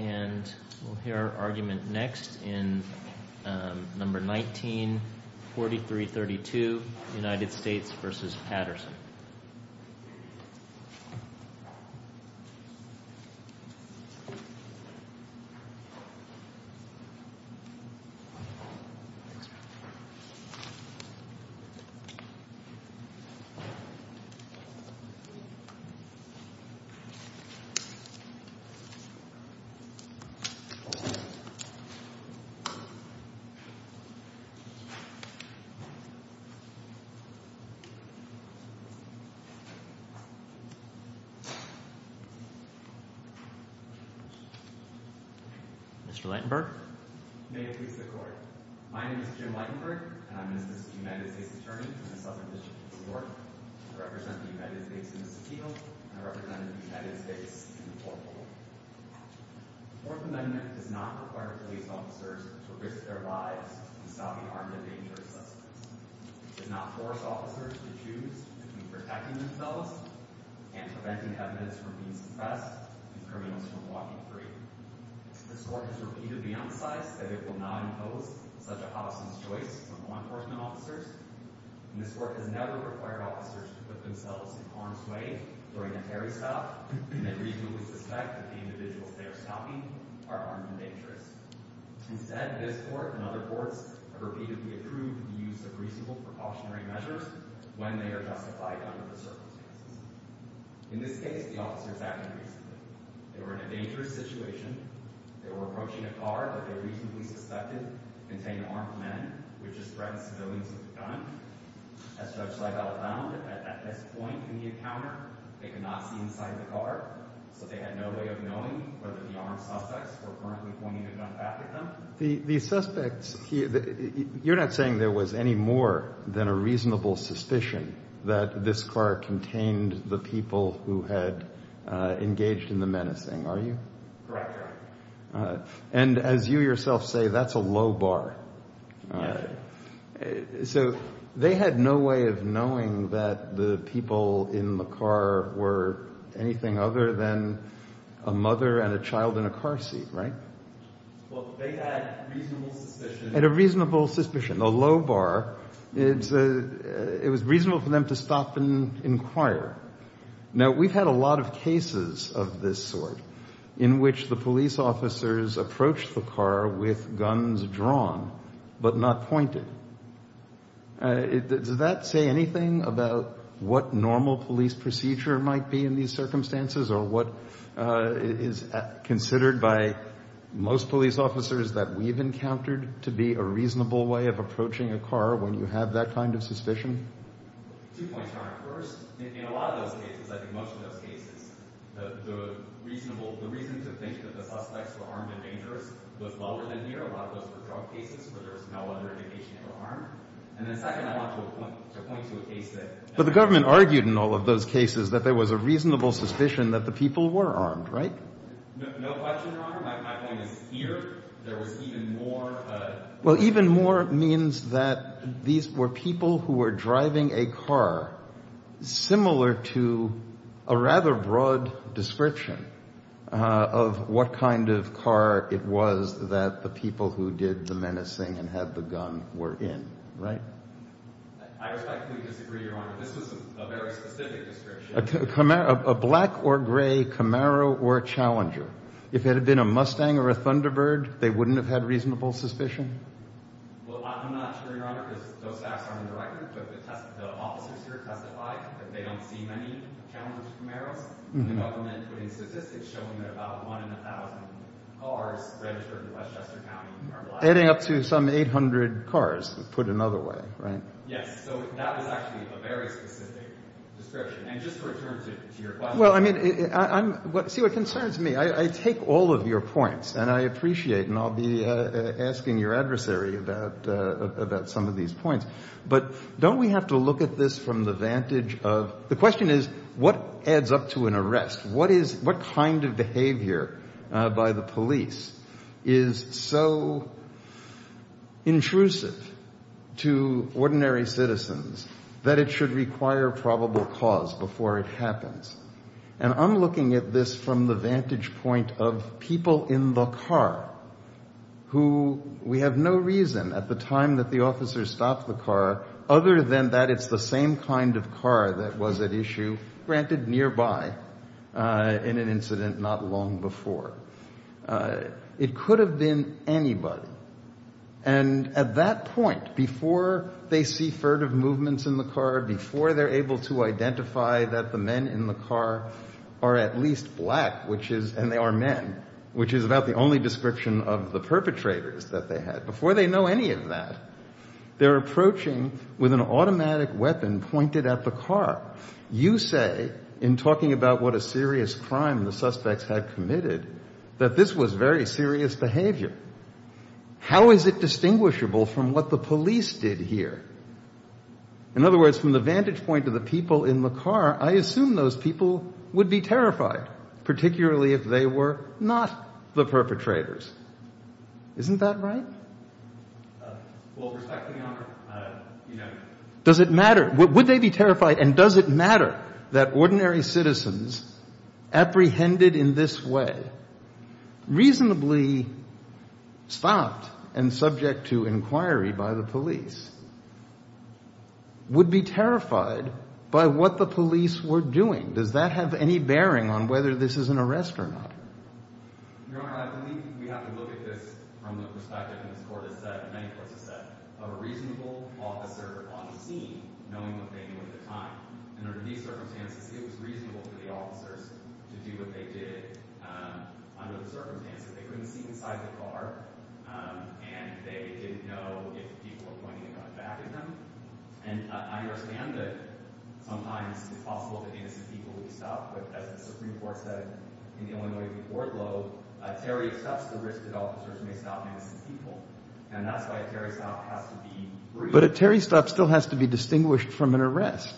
And we'll hear our argument next in number 19, 4332, United States v. Patterson. Mr. Lightenberg. May it please the Court. My name is Jim Lightenberg, and I'm the Minister of the United States Attorney in the Southern District of New York. I represent the United States in the 4th Amendment. The 4th Amendment does not require police officers to risk their lives in stopping armed and dangerous suspects. It does not force officers to choose between protecting themselves and preventing evidence from being suppressed and criminals from walking free. This Court has repeatedly emphasized that it will not impose such a house of choice on law enforcement officers, and this Court has never required officers to put themselves in harm's way during a carry stop when they reasonably suspect that the individuals they are stopping are armed and dangerous. Instead, this Court and other courts have repeatedly approved the use of reasonable precautionary measures when they are justified under the circumstances. In this case, the officers acted reasonably. They were in a dangerous situation. They were approaching a car that they reasonably suspected contained armed men, which is a threat to civilians with a gun. As Judge Lightenberg found, at this point in the encounter, they could not see inside the car, so they had no way of knowing whether the armed suspects were currently pointing a gun back at them. The suspects, you're not saying there was any more than a reasonable suspicion that this car contained the people who had engaged in the menacing, are you? Correct. And as you yourself say, that's a low bar. So they had no way of knowing that the people in the car were anything other than a mother and a child in a car seat, right? Well, they had reasonable suspicion. Had a reasonable suspicion, a low bar. It was reasonable for them to stop and inquire. Now, we've had a lot of cases of this sort in which the police officers approach the car with guns drawn but not pointed. Does that say anything about what normal police procedure might be in these circumstances or what is considered by most police officers that we've encountered to be a reasonable way of approaching a car when you have that kind of suspicion? Two points, Your Honor. First, in a lot of those cases, I think most of those cases, the reason to think that the suspects were armed and dangerous was lower than here. A lot of those were drug cases where there was no other indication they were armed. And then second, I want to point to a case that... But the government argued in all of those cases that there was a reasonable suspicion that the people were armed, right? No question, Your Honor. My point is here there was even more... Well, even more means that these were people who were driving a car similar to a rather broad description of what kind of car it was that the people who did the menacing and had the gun were in, right? I respectfully disagree, Your Honor. This was a very specific description. A black or gray Camaro or Challenger. If it had been a Mustang or a Thunderbird, they wouldn't have had reasonable suspicion? Well, I'm not sure, Your Honor, because those facts aren't on the record. But the officers here testified that they don't see many Challenger Camaros. And the government put in statistics showing that about one in a thousand cars registered in Westchester County are black. Adding up to some 800 cars, put another way, right? Yes. So that was actually a very specific description. And just to return to your question... Well, I mean, see, what concerns me, I take all of your points and I appreciate and I'll be asking your adversary about some of these points. But don't we have to look at this from the vantage of... The question is what adds up to an arrest? What kind of behavior by the police is so intrusive to ordinary citizens that it should require probable cause before it happens? And I'm looking at this from the vantage point of people in the car who we have no reason at the time that the officers stopped the car other than that it's the same kind of car that was at issue, granted, nearby, in an incident not long before. It could have been anybody. And at that point, before they see furtive movements in the car, before they're able to identify that the men in the car are at least black, and they are men, which is about the only description of the perpetrators that they had, before they know any of that, they're approaching with an automatic weapon pointed at the car. You say, in talking about what a serious crime the suspects had committed, that this was very serious behavior. How is it distinguishable from what the police did here? In other words, from the vantage point of the people in the car, I assume those people would be terrified, particularly if they were not the perpetrators. Isn't that right? Well, with respect to the honor, you know... Does it matter? Would they be terrified? And does it matter that ordinary citizens apprehended in this way, reasonably stopped and subject to inquiry by the police, would be terrified by what the police were doing? Does that have any bearing on whether this is an arrest or not? Your Honor, I believe we have to look at this from the perspective, as many courts have said, of a reasonable officer on the scene, knowing what they knew at the time. And under these circumstances, it was reasonable for the officers to do what they did under the circumstances. They couldn't see inside the car, and they didn't know if people were pointing a gun back at them. And I understand that sometimes it's possible that innocent people would be stopped, but as the Supreme Court said in the Illinois board vote, Terry stops the risk that officers may stop innocent people. And that's why a Terry stop has to be reasonable. But a Terry stop still has to be distinguished from an arrest.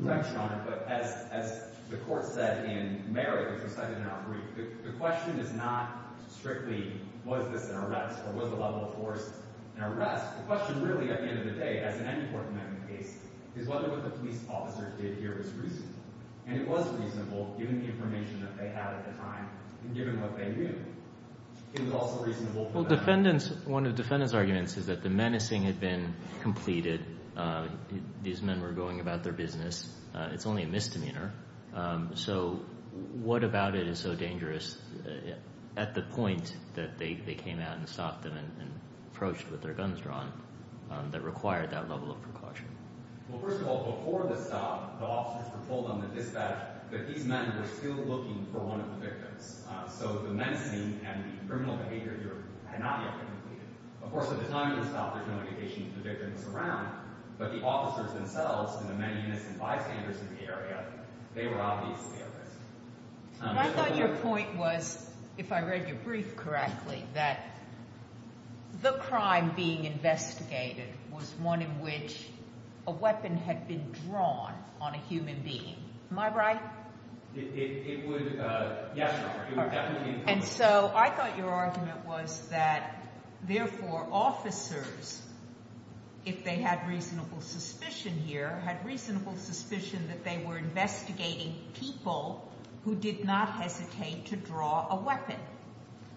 Right, Your Honor. But as the court said in Merritt, which was cited in our brief, the question is not strictly was this an arrest or was the level of force an arrest. The question really, at the end of the day, as in any court amendment case, is whether what the police officers did here was reasonable. And it was reasonable given the information that they had at the time and given what they knew. It was also reasonable for them. Well, one of the defendant's arguments is that the menacing had been completed. These men were going about their business. It's only a misdemeanor. So what about it is so dangerous at the point that they came out and stopped them and approached with their guns drawn that required that level of precaution? Well, first of all, before the stop, the officers were told on the dispatch that these men were still looking for one of the victims. So the menacing and the criminal behavior here had not yet been completed. Of course, at the time of the stop, there's no indication that the victim was around, but the officers themselves and the many innocent bystanders in the area, they were obviously at risk. I thought your point was, if I read your brief correctly, that the crime being investigated was one in which a weapon had been drawn on a human being. Am I right? It would, yes, Your Honor. And so I thought your argument was that, therefore, officers, if they had reasonable suspicion here, had reasonable suspicion that they were investigating people who did not hesitate to draw a weapon.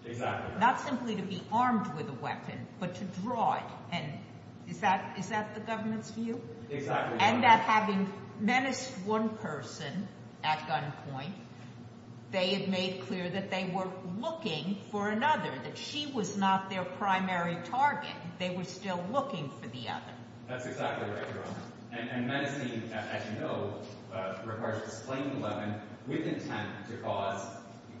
Exactly. Not simply to be armed with a weapon, but to draw it. And is that the government's view? Exactly, Your Honor. And that having menaced one person at gunpoint, they had made clear that they were looking for another, that she was not their primary target. They were still looking for the other. That's exactly right, Your Honor. And menacing, as you know, requires displaying the weapon with intent to cause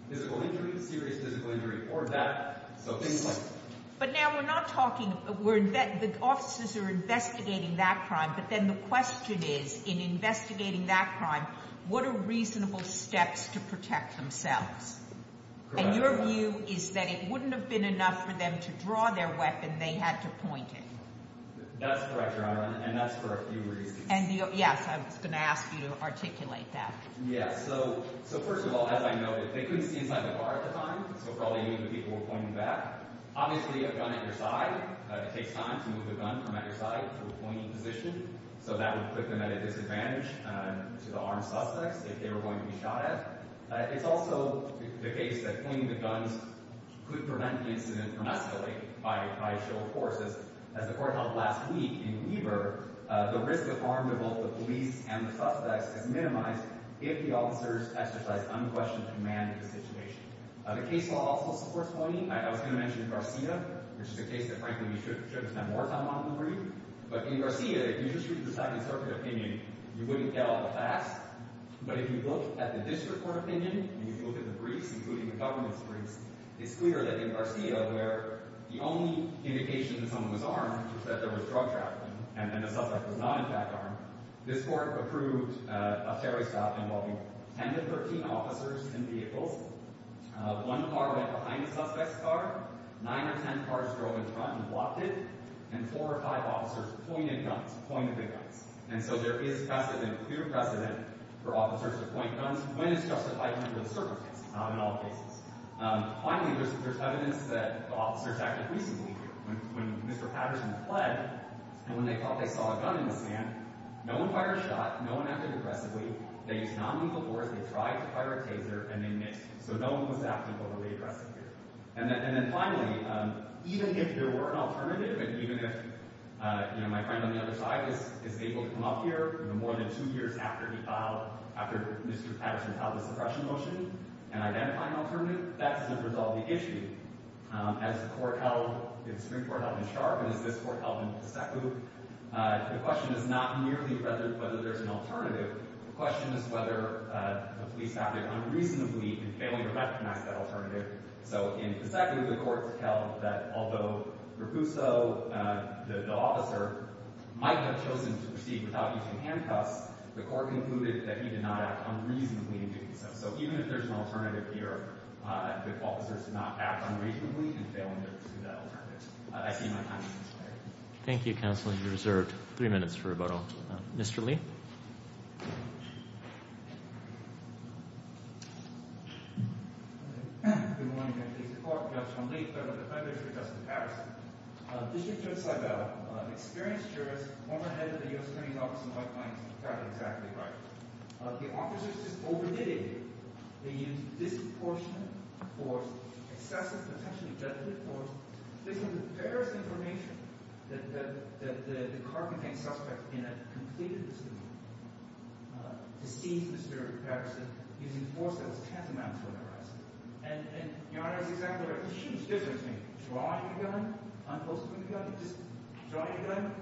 physical injury, serious physical injury, or death. So things like that. But now we're not talking, the officers are investigating that crime, but then the question is, in investigating that crime, what are reasonable steps to protect themselves? Correct. And your view is that it wouldn't have been enough for them to draw their weapon, they had to point it. That's correct, Your Honor, and that's for a few reasons. Yes, I was going to ask you to articulate that. Yes. So first of all, as I noted, they couldn't see inside the car at the time, so for all they knew, the people were pointing back. Obviously, a gun at your side, it takes time to move the gun from at your side to a pointing position, so that would put them at a disadvantage to the armed suspects if they were going to be shot at. It's also the case that pointing the guns could prevent the incident from escalating by a show of force. As the court held last week in Weber, the risk of harm to both the police and the suspects is minimized if the officers exercise unquestioned command of the situation. The case law also supports pointing. I was going to mention Garcia, which is a case that, frankly, we should have spent more time on in the brief, but in Garcia, if you just use the Second Circuit opinion, you wouldn't get all the facts, but if you look at the district court opinion, and you look at the briefs, including the government's briefs, it's clear that in Garcia, where the only indication that someone was armed was that there was drug trafficking, and then the suspect was not, in fact, armed, this court approved a ferry stop involving 10 to 13 officers in vehicles. One car went behind the suspect's car, nine or ten cars drove in front and blocked it, and four or five officers pointed guns, pointed the guns. And so there is precedent, clear precedent, for officers to point guns when it's justified under the circumstances, not in all cases. Finally, there's evidence that the officers acted reasonably here. When Mr. Patterson fled, and when they thought they saw a gun in the sand, no one fired a shot, no one acted aggressively, they used nonlethal force, they tried to fire a taser, and they missed. So no one was acting overly aggressively. And then finally, even if there were an alternative, and even if my friend on the other side is able to come up here more than two years after he filed, after Mr. Patterson filed a suppression motion and identified an alternative, that doesn't resolve the issue. As the Supreme Court held in Sharpe, and as this Court held in Paseku, the question is not merely whether there's an alternative, the question is whether a police acted unreasonably and failed to recognize that alternative. So in Paseku, the courts held that although Raguso, the officer, might have chosen to proceed without using handcuffs, the court concluded that he did not act unreasonably in doing so. So even if there's an alternative here, if officers did not act unreasonably in failing to pursue that alternative, I see my time has expired. Thank you, Counselor. You're reserved three minutes for rebuttal. Mr. Lee? Good morning, Your Honor. This is the Court of Appeals. I'm Lee, Federal Defendant for Justin Patterson. District Judge Seibel, an experienced jurist, former head of the U.S. Attorney's Office in White Plains, got it exactly right. The officers just overdid it. They used disproportionate force, excessive potentially judgmental force, to disclose the various information that the carpentry suspect in it completed to seize Mr. Patterson, using force that was tantamount to harassment. And, Your Honor, it's exactly right. The huge difference between drawing a gun, unclosing a gun, just drawing a gun,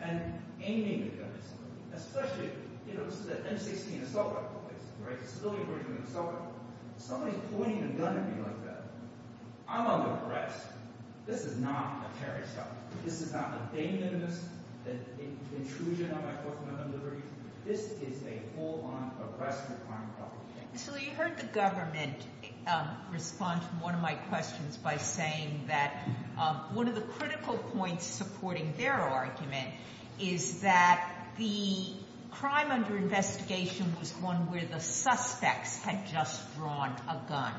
and aiming a gun, especially, you know, this is an M-16 assault rifle case, right? It's a civilian version of an assault rifle. Somebody's pointing a gun at me like that. I'm under arrest. This is not a terrorist act. This is not a dangerous intrusion on my Fourth Amendment liberty. This is a full-on arrest of a crime. Mr. Lee, you heard the government respond to one of my questions by saying that one of the critical points supporting their argument is that the crime under investigation was one where the suspects had just drawn a gun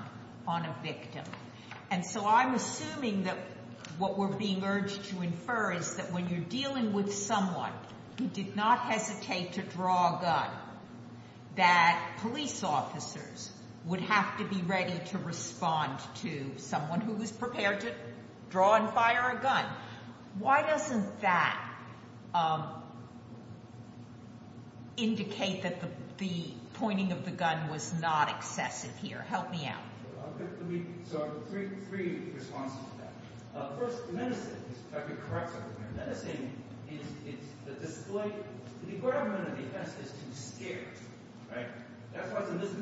on a victim. And so I'm assuming that what we're being urged to infer is that when you're dealing with someone who did not hesitate to draw a gun, that police officers would have to be ready to respond to someone who was prepared to draw and fire a gun. Why doesn't that indicate that the pointing of the gun was not excessive here? Help me out. So I have three responses to that. First, the menacing, if I could correct something here. The menacing is the display... The decorum of an offense is to be scared, right? That's why it's illicit.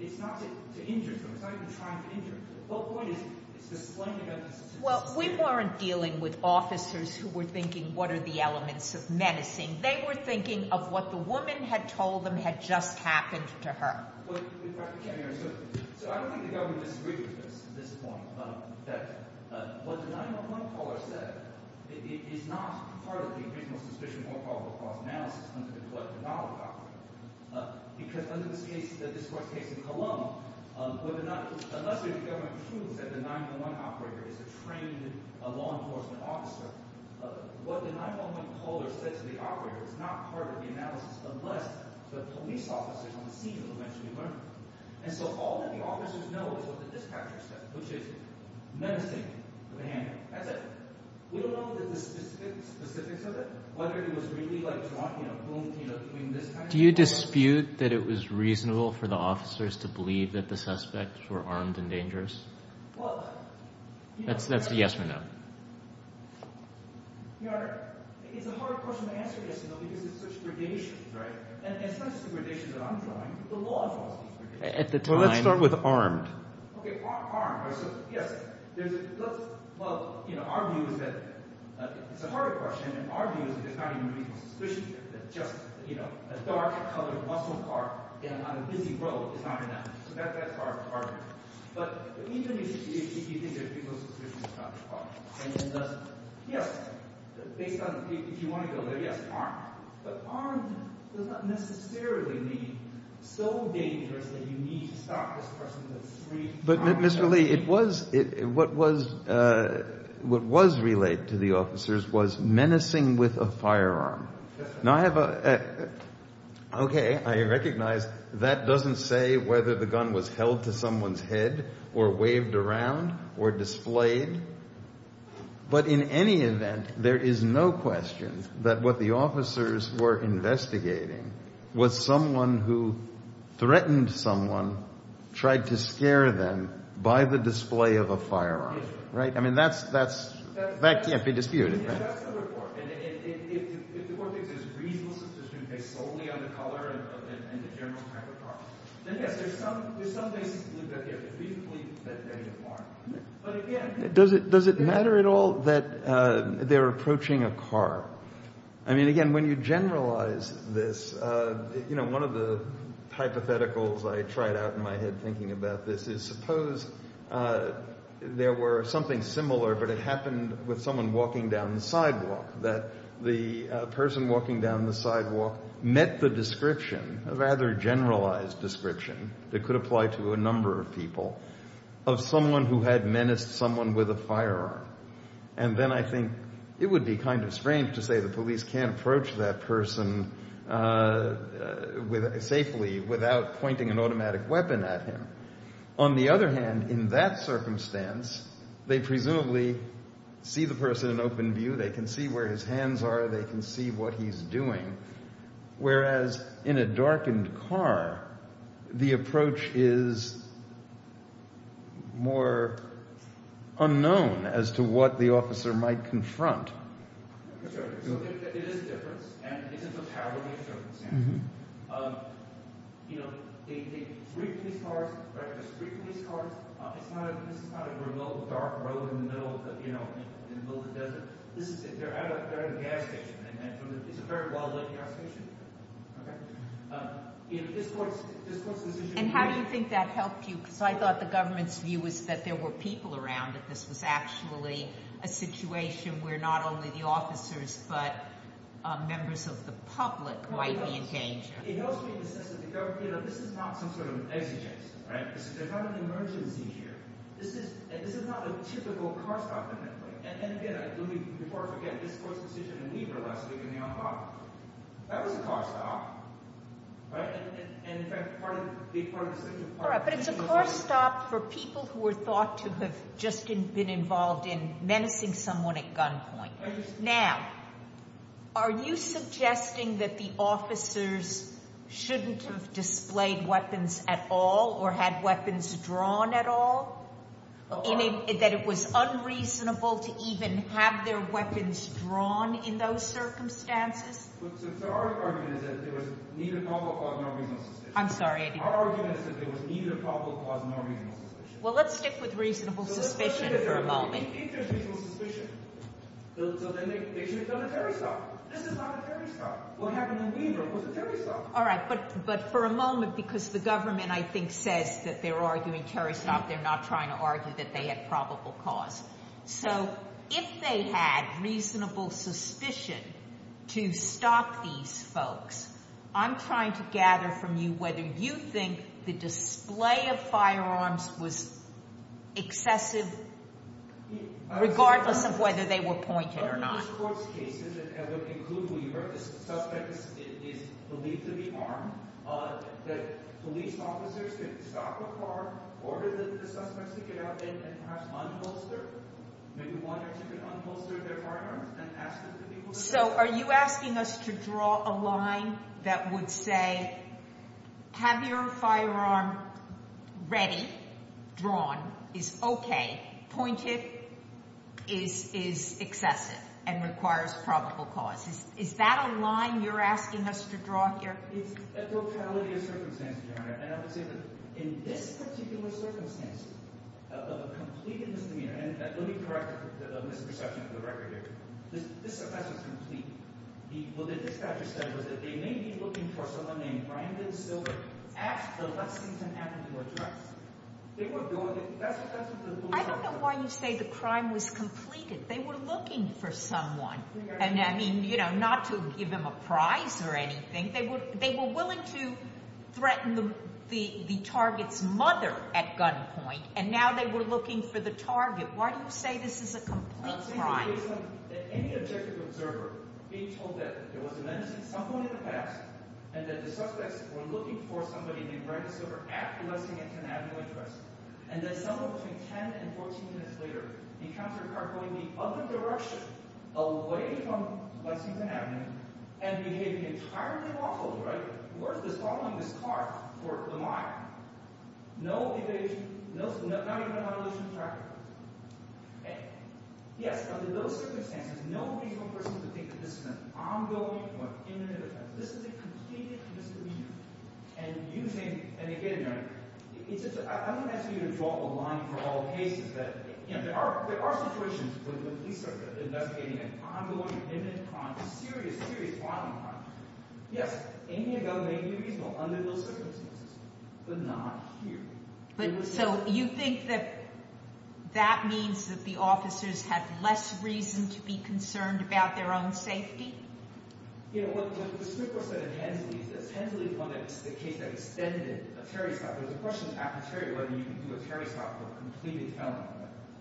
It's not to injure someone. It's not even trying to injure someone. The whole point is it's displaying an emphasis... Well, we weren't dealing with officers who were thinking, what are the elements of menacing? They were thinking of what the woman had told them had just happened to her. Well, if I could... So I don't think the government disagrees with us at this point that what the 911 caller said is not part of the original suspicion or probable cause analysis under the Collective Knowledge Operator. Because under this case, this court's case in Cologne, unless the government proves that the 911 operator is a trained law enforcement officer, what the 911 caller said to the operator is not part of the analysis unless the police officer is on the scene of a mentally ill person. And so all that the officers know is what the dispatcher said, which is menacing to the handling. That's it. We don't know the specifics of it, whether it was really, like, drunk, you know, between this kind of... Do you dispute that it was reasonable for the officers to believe that the suspects were armed and dangerous? Well... That's a yes or no. Your Honor, it's a hard question to answer yes or no because it's such gradations, right? And it's not just the gradations that I'm drawing. The law enforcement's gradations. Well, let's start with armed. Okay, armed. Well, you know, our view is that... It's a harder question, and our view is that there's not even a reasonable suspicion that just, you know, a dark-colored muscle car on a busy road is not enough. So that's part of it. But even if you think there's a reasonable suspicion it's not part of it. And yes, based on... If you want to go there, yes, armed. But armed does not necessarily mean so dangerous that you need to stop this person in the street... But, Mr. Lee, it was... What was... What was relayed to the officers was menacing with a firearm. Now, I have a... Okay, I recognize that doesn't say whether the gun was held to someone's head or waved around or displayed. But in any event, there is no question that what the officers were investigating was someone who threatened someone, tried to scare them by the display of a firearm. Right? I mean, that's... That can't be disputed. That's the report. And if the court thinks there's a reasonable suspicion based solely on the color and the general type of car, then yes, there's some basis that there is reasonably that there is a firearm. But again... Does it matter at all that they're approaching a car? I mean, again, when you generalize this, you know, one of the hypotheticals I tried out in my head thinking about this is suppose there were something similar but it happened with someone walking down the sidewalk that the person walking down the sidewalk met the description a rather generalized description that could apply to a number of people of someone who had menaced someone with a firearm. And then I think it would be kind of strange to say the police can't approach that person safely without pointing an automatic weapon at him. On the other hand, in that circumstance, they presumably see the person in open view. They can see where his hands are. They can see what he's doing. Whereas in a darkened car, the approach is more unknown as to what the officer might confront. Sure. So there is a difference, and it's a totality of circumstances. You know, they treat police cars... They treat police cars... It's not a remote, dark road in the middle of the desert. They're at a gas station. It's a very well lit gas station. Okay? And how do you think that helped you? Because I thought the government's view was that there were people around and this was actually a situation where not only the officers but members of the public might be engaged. It helps me in the sense that this is not some sort of exegesis, right? There's not an emergency here. This is not a typical car stop in that way. And again, before I forget, this court's decision in Lieber last week in the Alhambra, that was a car stop, right? And in fact, part of the decision... Alright, but it's a car stop for people who are thought to have just been involved in menacing someone at gunpoint. Now, are you suggesting that the officers shouldn't have displayed weapons at all or had weapons drawn at all? That it was unreasonable to even have their weapons drawn in those circumstances? I'm sorry, Eddie. Well, let's stick with reasonable suspicion for a moment. Alright, but for a moment because the government, I think, says that they're arguing terrorists. They're not trying to argue that they had probable cause. So, if they had reasonable suspicion to stop these folks, I'm trying to gather from you whether you think the display of firearms was excessive regardless of whether they were pointed or not. In most courts' cases, that would include Lever, the suspect is believed to be armed, that police officers could stop a car, order the suspects to get out then, and perhaps unholster, maybe one or two could unholster their firearms and ask them to be... So, are you asking us to draw a line that would say, have your firearm ready, drawn, is okay, pointed, is excessive, and requires probable cause? Is that a line you're asking us to draw here? It's a totality of circumstances, Your Honor. And I would say that in this particular circumstance of a complete misdemeanor, and let me correct a misperception of the record here. The suspect was complete. What the dispatcher said was that they may be looking for someone named Brandon Silver at the Lexington Avenue address. They were going... I don't know why you say the crime was completed. They were looking for someone, and I mean, you know, not to give them a prize or anything. They were willing to threaten the target's mother at gunpoint, and now they were looking for the target. Why do you say this is a complete crime? Any objective observer being told that there was an incident at some point in the past and that the suspects were looking for somebody named Brandon Silver at the Lexington Avenue address, and that somewhere between 10 and 14 minutes later, the encounter car going the other direction, away from Lexington Avenue, and behaving entirely lawfully, right? Following this car toward the mile. No evasion, not even a violation of traffic. Okay. Yes, under those circumstances, no reasonable person would think that this is an ongoing or imminent offense. This is a complete misdemeanor, and using, and again, it's just, I'm going to ask you to draw a line for all cases that, you know, there are situations where the police are investigating an ongoing, imminent crime, a serious, serious, violent crime. Yes, aiming a gun may be reasonable under those circumstances, but not here. So you think that that means that the officers have less reason to be concerned about their own safety? You know, what the Supreme Court said to Hensley is this. Hensley found that it's the case that extended a Terry stop. There's a question with Aperture whether you can do a Terry stop for a completed felony.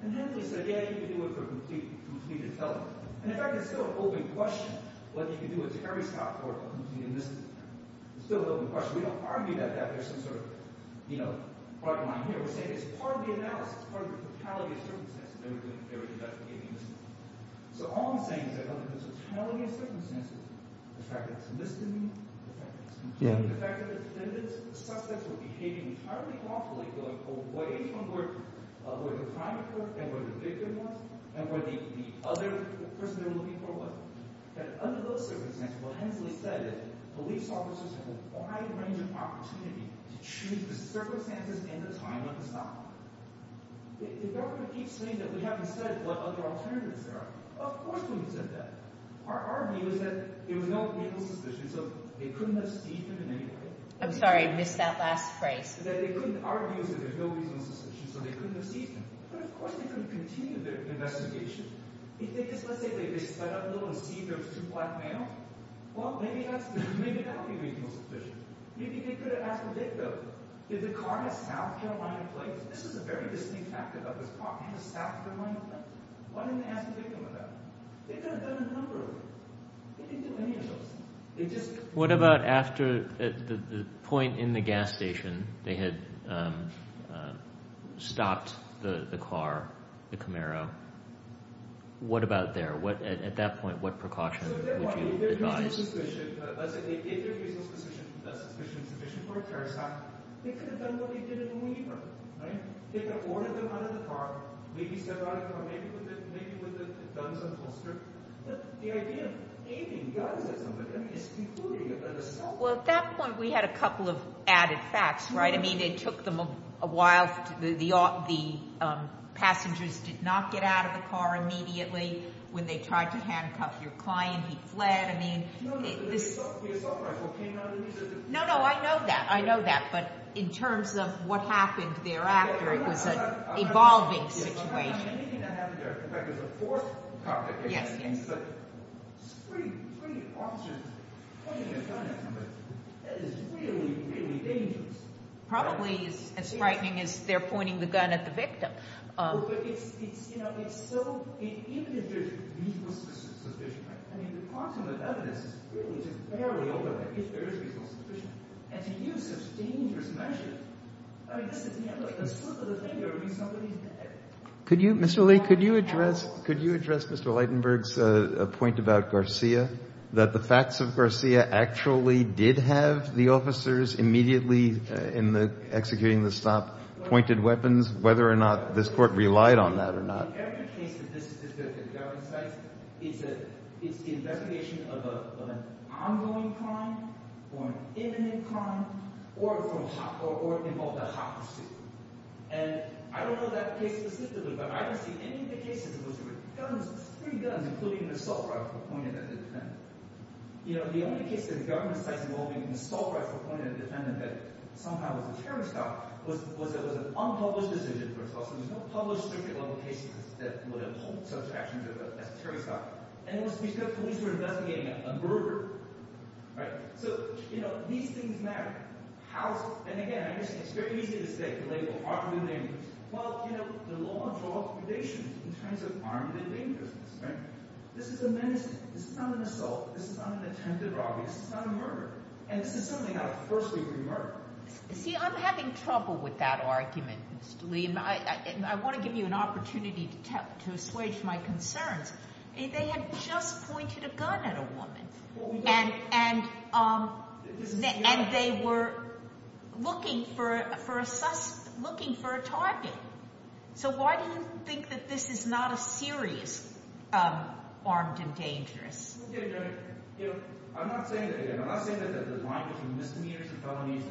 And Hensley said, yeah, you can do it for a completed felony. And in fact, it's still an open question whether you can do a Terry stop for a completed misdemeanor. It's still an open question. We don't argue that there's some sort of, you know, we're saying it's part of the analysis, part of the totality of circumstances. So all I'm saying is that the totality of circumstances the fact that it's a misdemeanor, the fact that it's completed, the fact that the suspects were behaving entirely lawfully going away from where the crime occurred and where the victim was and where the other person they were looking for was. And under those circumstances, what Hensley said is police officers have a wide range of opportunity to choose the circumstances and the time of the stop. The government keeps saying that we haven't said what other alternatives there are. Of course we wouldn't have said that. Our view is that there was no reasonable suspicion so they couldn't have seized him in any way. I'm sorry, I missed that last phrase. Our view is that there's no reasonable suspicion so they couldn't have seized him. But of course they couldn't continue their investigation. If they just, let's say, they sped up a little and seized two black males, well, maybe that would be reasonable suspicion. Maybe they could have asked the victim did the car have South Carolina plates? This is a very distinct fact about this car. It has a South Carolina plate. Why didn't they ask the victim about it? They could have done a number of things. They didn't do any of those. What about after the point in the gas station they had stopped the car, the Camaro? What about there? At that point, what precaution would you advise? If there was a reasonable suspicion, let's say they did have a reasonable suspicion for a terrorist act, they could have done what they did in the meantime. They could have ordered them to get out of the car, maybe step out of the car, maybe with a gun and holster. But the idea of aiming guns at somebody is concluding that they're the suspect. Well, at that point, we had a couple of added facts, right? I mean, it took them a while. The passengers did not get out of the car immediately. When they tried to handcuff your client, he fled. No, but the assault rifle came out of the vehicle. No, no, I know that. I know that. But in terms of what happened thereafter, it was an evolving situation. Yes, yes. Probably as frightening as they're pointing the gun at the victim. A slip of the finger means somebody's dead. Mr. Lee, could you address Mr. Leidenberg's point about Garcia, that the facts of Garcia actually did have the officers immediately, in the executing the stop, pointed weapons, whether or not this Court relied on that or not? In every case that this is discussed at government sites, it's the investigation of an ongoing crime, or an imminent crime, or involved a hot pursuit. I don't know that case specifically, but I don't see any of the cases in which there were three guns, including an assault rifle pointed at the defendant. The only case that the government sites involving an assault rifle pointed at the defendant that somehow was a terrorist cop was an unpublished decision. There was no published circuit-level case that would uphold such actions as a terrorist cop. And it was because police were investigating a murder. So, you know, these things matter. And again, I understand, it's very easy to say, to label, arguably, well, you know, the law draws predation in terms of armed and innocent. This is a menace. This is not an assault. This is not an attempted robbery. This is not a murder. And this is something of a first-degree murder. See, I'm having trouble with that argument, Mr. Lee, and I want to give you an opportunity to assuage my concerns. They had just pointed a gun at a woman. And they were looking for a suspect, looking for a target. So why do you think that this is not a serious armed and dangerous? You know, I'm not saying that the line between misdemeanors and felonies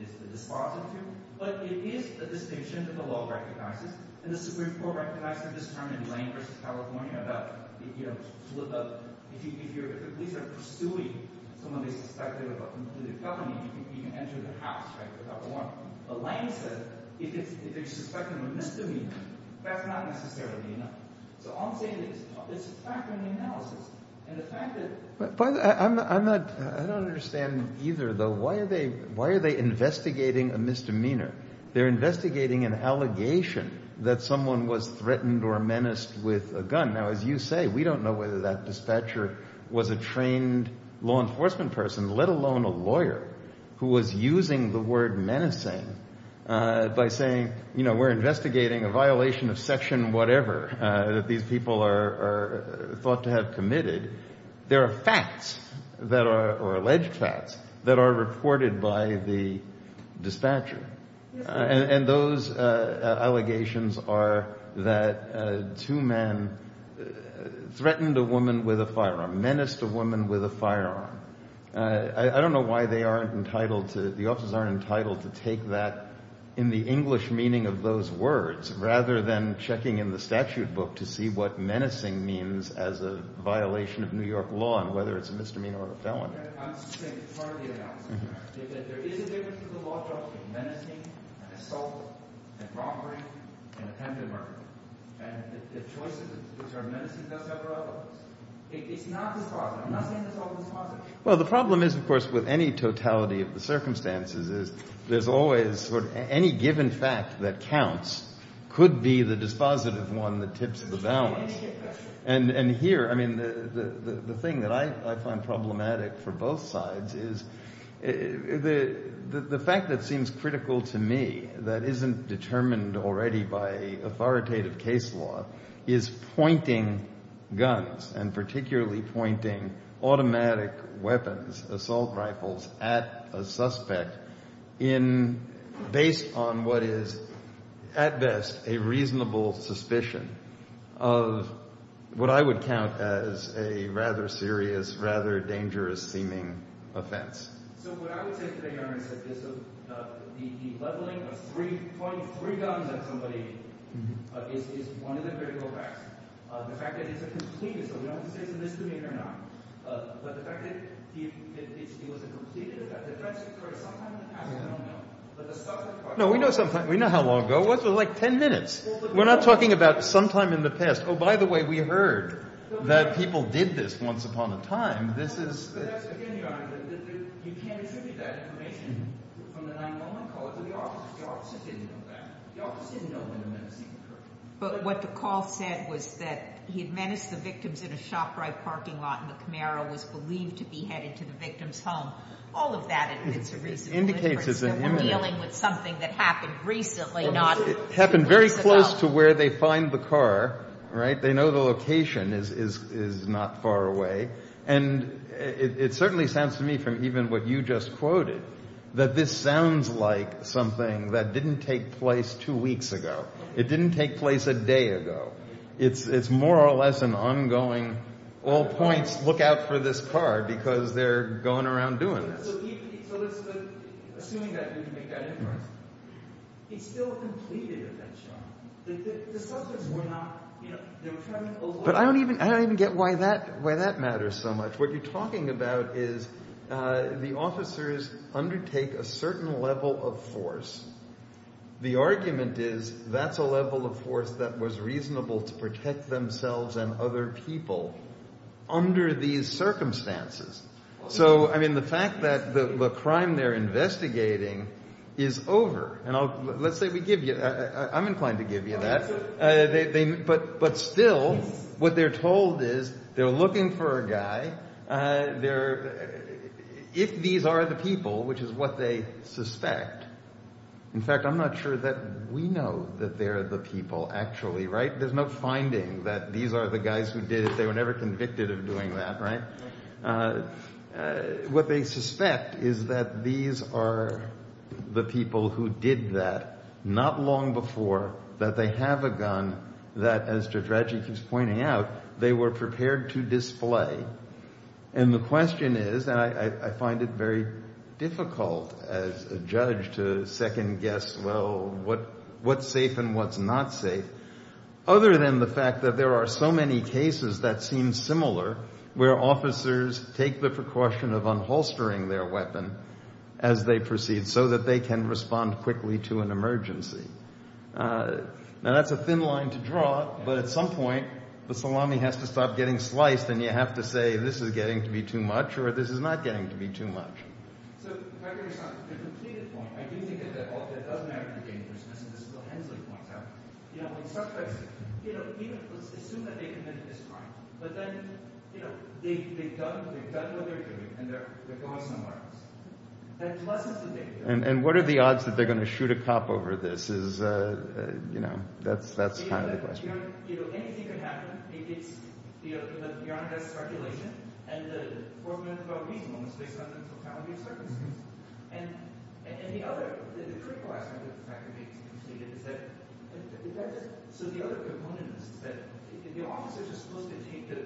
is the dispositive, but it is a distinction that the law recognizes, and the Supreme Court recognizes this time in Lane v. California about, you know, if the police are pursuing someone they suspect of a felony, you can enter the house, right, without a warrant. But Lane says if they're suspecting a misdemeanor, that's not necessarily enough. So all I'm saying is, it's a factor in the analysis. And the fact that I'm not, I don't understand either, though. Why are they investigating a misdemeanor? They're investigating an allegation that someone was threatened or menaced with a gun. Now, as you say, we don't know whether that dispatcher was a trained law enforcement person, let alone a lawyer who was using the word menacing by saying, you know, we're investigating a violation of section whatever that these people are thought to have committed. There are facts that are, or alleged facts, that are reported by the dispatcher. And those allegations are that two men threatened a woman with a firearm, menaced a woman with a firearm. I don't know why they aren't entitled to, the officers aren't entitled to take that in the English meaning of those words rather than checking in the statute book to see what menacing means as a violation of New York law and whether it's a misdemeanor or a felony. I'm saying it's part of the analysis. There is a difference to the law between menacing, assault, and robbery, and attempted murder. And the choices that are menacing does have relevance. It's not dispositive. I'm not saying it's all dispositive. Well, the problem is, of course, with any totality of the circumstances is there's always any given fact that counts could be the dispositive one that tips the balance. And here, I mean, the thing that I find problematic for both sides is the fact that seems critical to me, that isn't determined already by authoritative case law, is pointing guns and particularly pointing automatic weapons, assault rifles, at a suspect based on what is, at best, a reasonable suspicion of what I would count as a rather serious, rather dangerous seeming offense. No, we know how long ago. It was like ten minutes. We're not talking about sometime in the past. Oh, by the way, we heard that people did this once upon a time. But what the call said was that he had menaced the victims in a shop right parking lot and the Camaro was believed to be headed to the victim's home. All of that indicates a reasonable indifference that we're dealing with something that happened recently, not recently. It happened very close to where they find the car, right? They know the location is not far away. And it certainly sounds to me, from even what you just quoted, that this sounds like something that didn't take place two weeks ago. It didn't take place a day ago. It's more or less an ongoing all points, look out for this car because they're going around doing this. He still completed the shop. The suspects were not But I don't even get why that matters so much. What you're talking about is the officers undertake a certain level of force. The argument is that's a level of force that was reasonable to protect themselves and other people under these circumstances. So, I mean, the fact that the crime they're investigating is over. Let's say we give you, I'm inclined to give you that. But still, what they're told is they're looking for a guy. If these are the people, which is what they suspect. In fact, I'm not sure that we know that they're the people, actually, right? There's no finding that these are the guys who did it. They were never convicted of doing that, right? What they suspect is that these are the people who did that not long before that they have a gun that, as Judge Radjic is pointing out, they were prepared to display. And the question is, and I find it very difficult as a judge to second-guess well, what's safe and what's not safe, other than the fact that there are so many cases that seem similar where officers take the precaution of unholstering their weapon as they proceed so that they can respond quickly to an emergency. Now that's a thin line to draw, but at some point the salami has to stop getting sliced and you have to say, this is getting to be too much or this is not getting to be too much. So if I could respond to the completed point I do think that it does matter for dangerousness, and this is what Hensley points out you know, when suspects assume that they committed this crime but then, you know, they've done what they're doing and they're going somewhere else. And what are the odds that they're going to shoot a cop over this? You know, that's kind of the question. Anything can happen it's beyond speculation, and the circumstances. And the other, the critical aspect of the fact that it's completed is that so the other component is that the officers are supposed to take the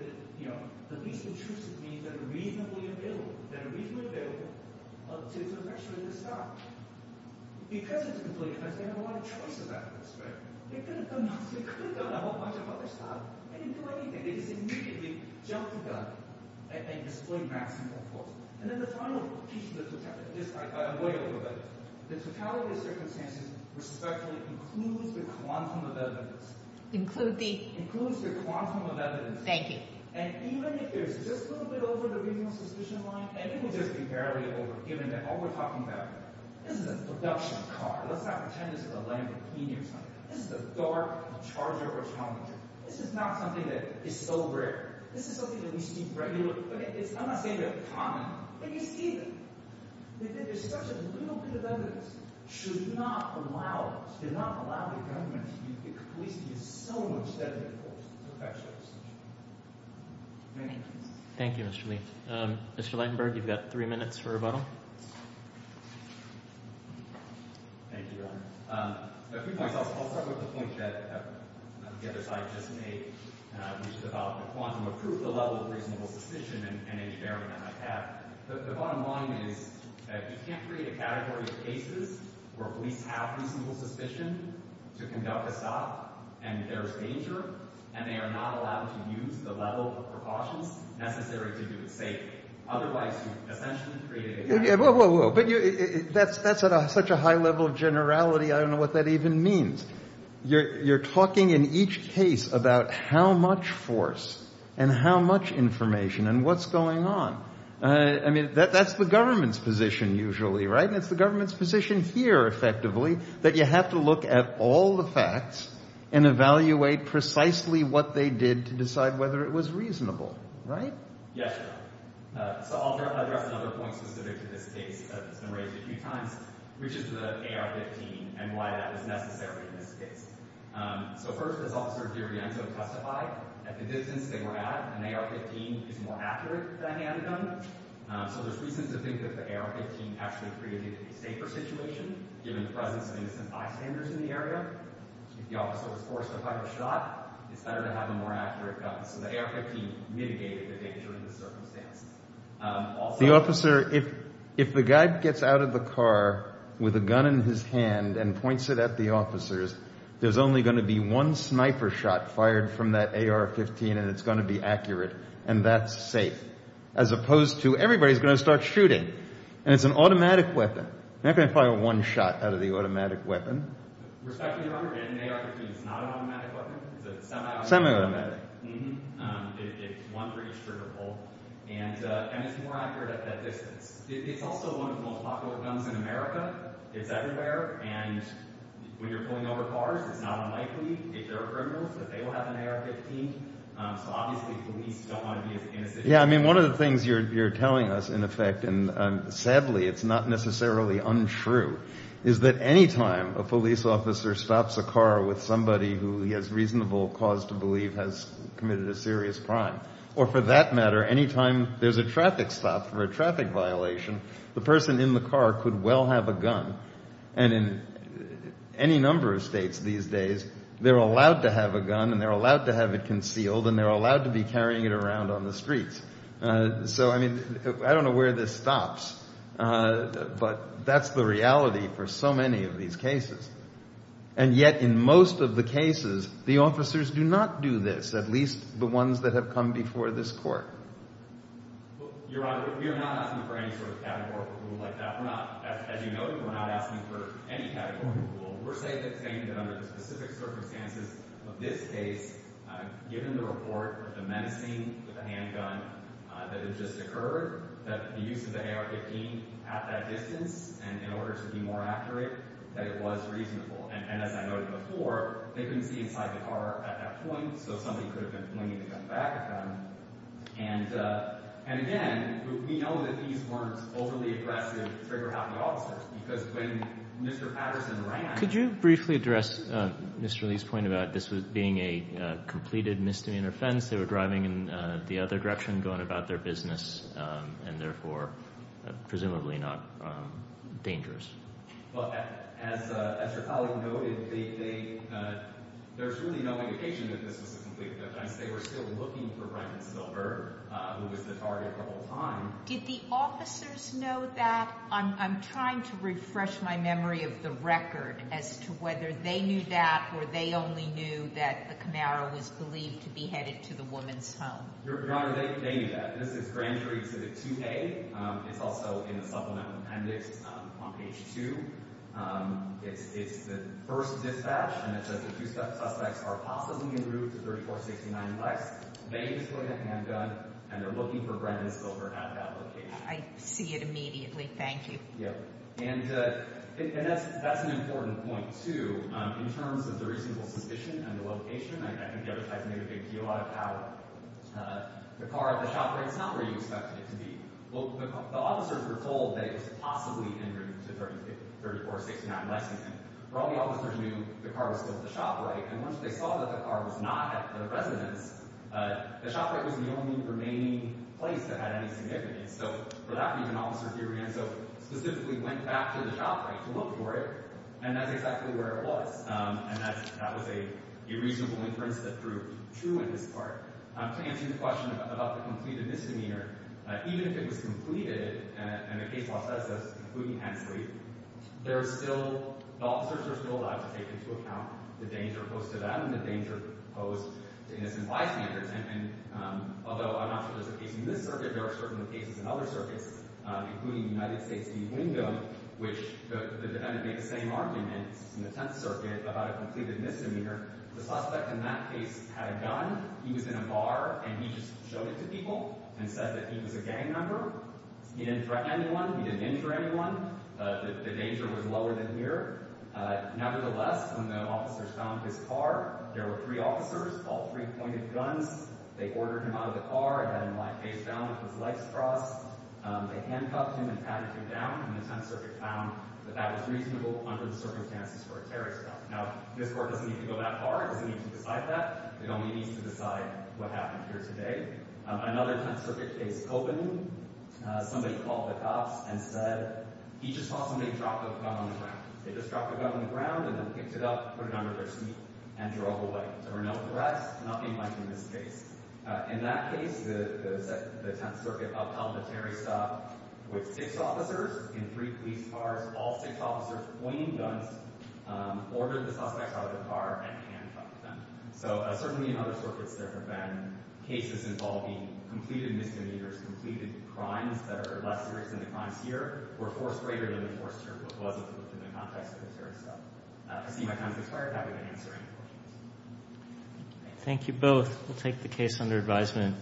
least intrusive means that are reasonably available that are reasonably available to the rest of the staff. Because it's a completed case, they don't have a lot of choice about this, right? They could have done a whole bunch of other stuff they didn't do anything, they just immediately jumped the gun and displayed maximum force. And then the final piece of the totality of the circumstances respectfully includes the quantum of evidence. Includes the? Includes the quantum of evidence. Thank you. And even if there's just a little bit over the reasonable suspicion line and it will just be barely over given that all we're talking about this is a production car, let's not pretend this is a Lamborghini or something. This is a dark Charger or Challenger. This is not something that is so rare. This is something that we see regularly. I'm not saying they're common. But you see them. There's such a little bit of evidence that should not allow the government to police so much deadly force. Thank you. Thank you, Mr. Lee. Mr. Leidenberg, you've got three minutes for a rebuttal. Thank you. I'll start with the point that the other side just made which is about the quantum of proof the level of reasonable suspicion and age bearing on that path. The bottom line is that you can't create a category of cases where police have reasonable suspicion to conduct a stop and there's danger and they are not allowed to use the level of precautions necessary to do it safe. Otherwise, you essentially create a category. That's at such a high level of generality. I don't know what that even means. You're talking in each case about how much force and how much information and what's going on. That's the government's position usually. It's the government's position here effectively that you have to look at all the facts and evaluate precisely what they did to decide whether it was reasonable. I'll address another point specific to this case that's been raised a few times which is the AR-15 and why that was necessary in this case. First, as Officer DiRienzo testified, at the distance they were at, an AR-15 is more accurate than a handgun. There's reason to think that the AR-15 actually created a safer situation given the presence of innocent bystanders in the area. If the officer was forced to fire a shot, it's better to have a more accurate gun. The AR-15 mitigated the danger in the circumstance. The officer, if the guy gets out of the car with a gun in his hand and points it at the officers, there's only going to be one sniper shot fired from that AR-15 and it's going to be accurate. And that's safe. As opposed to everybody's going to start shooting. And it's an automatic weapon. You're not going to fire one shot out of the automatic weapon. Respect to your honor, an AR-15 is not an automatic weapon. It's a semi-automatic. Semi-automatic. It's one pretty stripper pull. And it's more accurate at that distance. It's also one of the most popular pistol guns in America. It's everywhere. And when you're pulling over cars, it's not unlikely, if they're criminals, that they will have an AR-15. So obviously, police don't want to be as innocent. Yeah, I mean, one of the things you're telling us, in effect, and sadly it's not necessarily untrue, is that any time a police officer stops a car with somebody who he has reasonable cause or for that matter, any time there's a traffic stop or a traffic violation, the person in the car could well have a gun. And in any number of states these days, they're allowed to have a gun and they're allowed to have it concealed and they're allowed to be carrying it around on the streets. So, I mean, I don't know where this stops, but that's the reality for so many of these cases. And yet, in most of the cases, the officers do not do this, at least the ones that have come before this court. Your Honor, we are not asking for any sort of categorical rule like that. We're not. As you noted, we're not asking for any categorical rule. We're saying that under the specific circumstances of this case, given the report of the menacing with a handgun that had just occurred, that the use of the AR-15 at that distance and in order to be more accurate, that it was reasonable. And as I noted before, they couldn't see inside the car at that point, so somebody could have been looking back at them. And again, we know that these weren't overly aggressive trigger-happy officers, because when Mr. Patterson ran... Could you briefly address Mr. Lee's point about this being a completed misdemeanor offense? They were driving in the other direction, going about their business and therefore presumably not dangerous. Well, as your colleague noted, there's really no indication that this was a completed offense. They were still looking for Bryant Silver, who was the target the whole time. Did the officers know that? I'm trying to refresh my memory of the record as to whether they knew that or they only knew that the Camaro was believed to be headed to the woman's home. Your Honor, they knew that. This is grand jury to the 2A. It's also in the supplemental appendix on page 2. It's the first dispatch, and it says the two suspects are possibly en route to 3469 Lexington. They just put in a handgun, and they're looking for Bryant Silver at that location. I see it immediately. Thank you. Yep. And that's an important point, too. In terms of the reasonable suspicion and the location, I think the other type made a big deal out of how the car at the shop ran somewhere you expected it to be. Well, the officers were told that it was possibly en route to 3469 Lexington. For all the officers who knew, the car was still at the shop right, and once they saw that the car was not at the residence, the shop right was the only remaining place that had any significance. So for that reason, officers here specifically went back to the shop right to look for it, and that's exactly where it was. And that was a reasonable inference that proved true in this part. To answer your question about the completed misdemeanor, even if it was completed and the case law says that it's completely cancelled, there's still— the officers are still allowed to take into account the danger posed to them, the danger posed to innocent bystanders, and although I'm not sure there's a case in this circuit, there are certainly cases in other circuits, including the United States v. Wingo, which the defendant made the same argument in the Tenth Circuit about a completed misdemeanor. The suspect in that case had a gun, he was in a bar, and he just showed it to people and said that he was a gang member. He didn't threaten anyone, he didn't injure anyone, the danger was lower than here. Nevertheless, when the officers found his car, there were three officers, all three pointed guns, they ordered him out of the car, had him lie face down with his legs crossed, they handcuffed him and tacked him down, and the Tenth Circuit found that that was reasonable under the circumstances for a terrorist act. Now, this court doesn't need to go that far, it doesn't need to decide that, it only needs to decide what happened here today. Another Tenth Circuit case openly, somebody called the cops and said he just saw somebody drop a gun on the ground. They just dropped a gun on the ground and then picked it up, put it under their seat, and drove away. There were no threats, nothing like in this case. In that case, the Tenth Circuit upheld the terrorist act with six officers in three police cars, all six officers pointing guns, ordered the suspect out of the car, and handcuffed them. So certainly in other circuits there have been cases involving completed misdemeanors, completed crimes that are less serious than the crimes here, or force greater than the force terrible. It wasn't within the context of the terrorist act. I see my time has expired. I haven't been answering the questions. Thank you both. We'll take the case under advisement.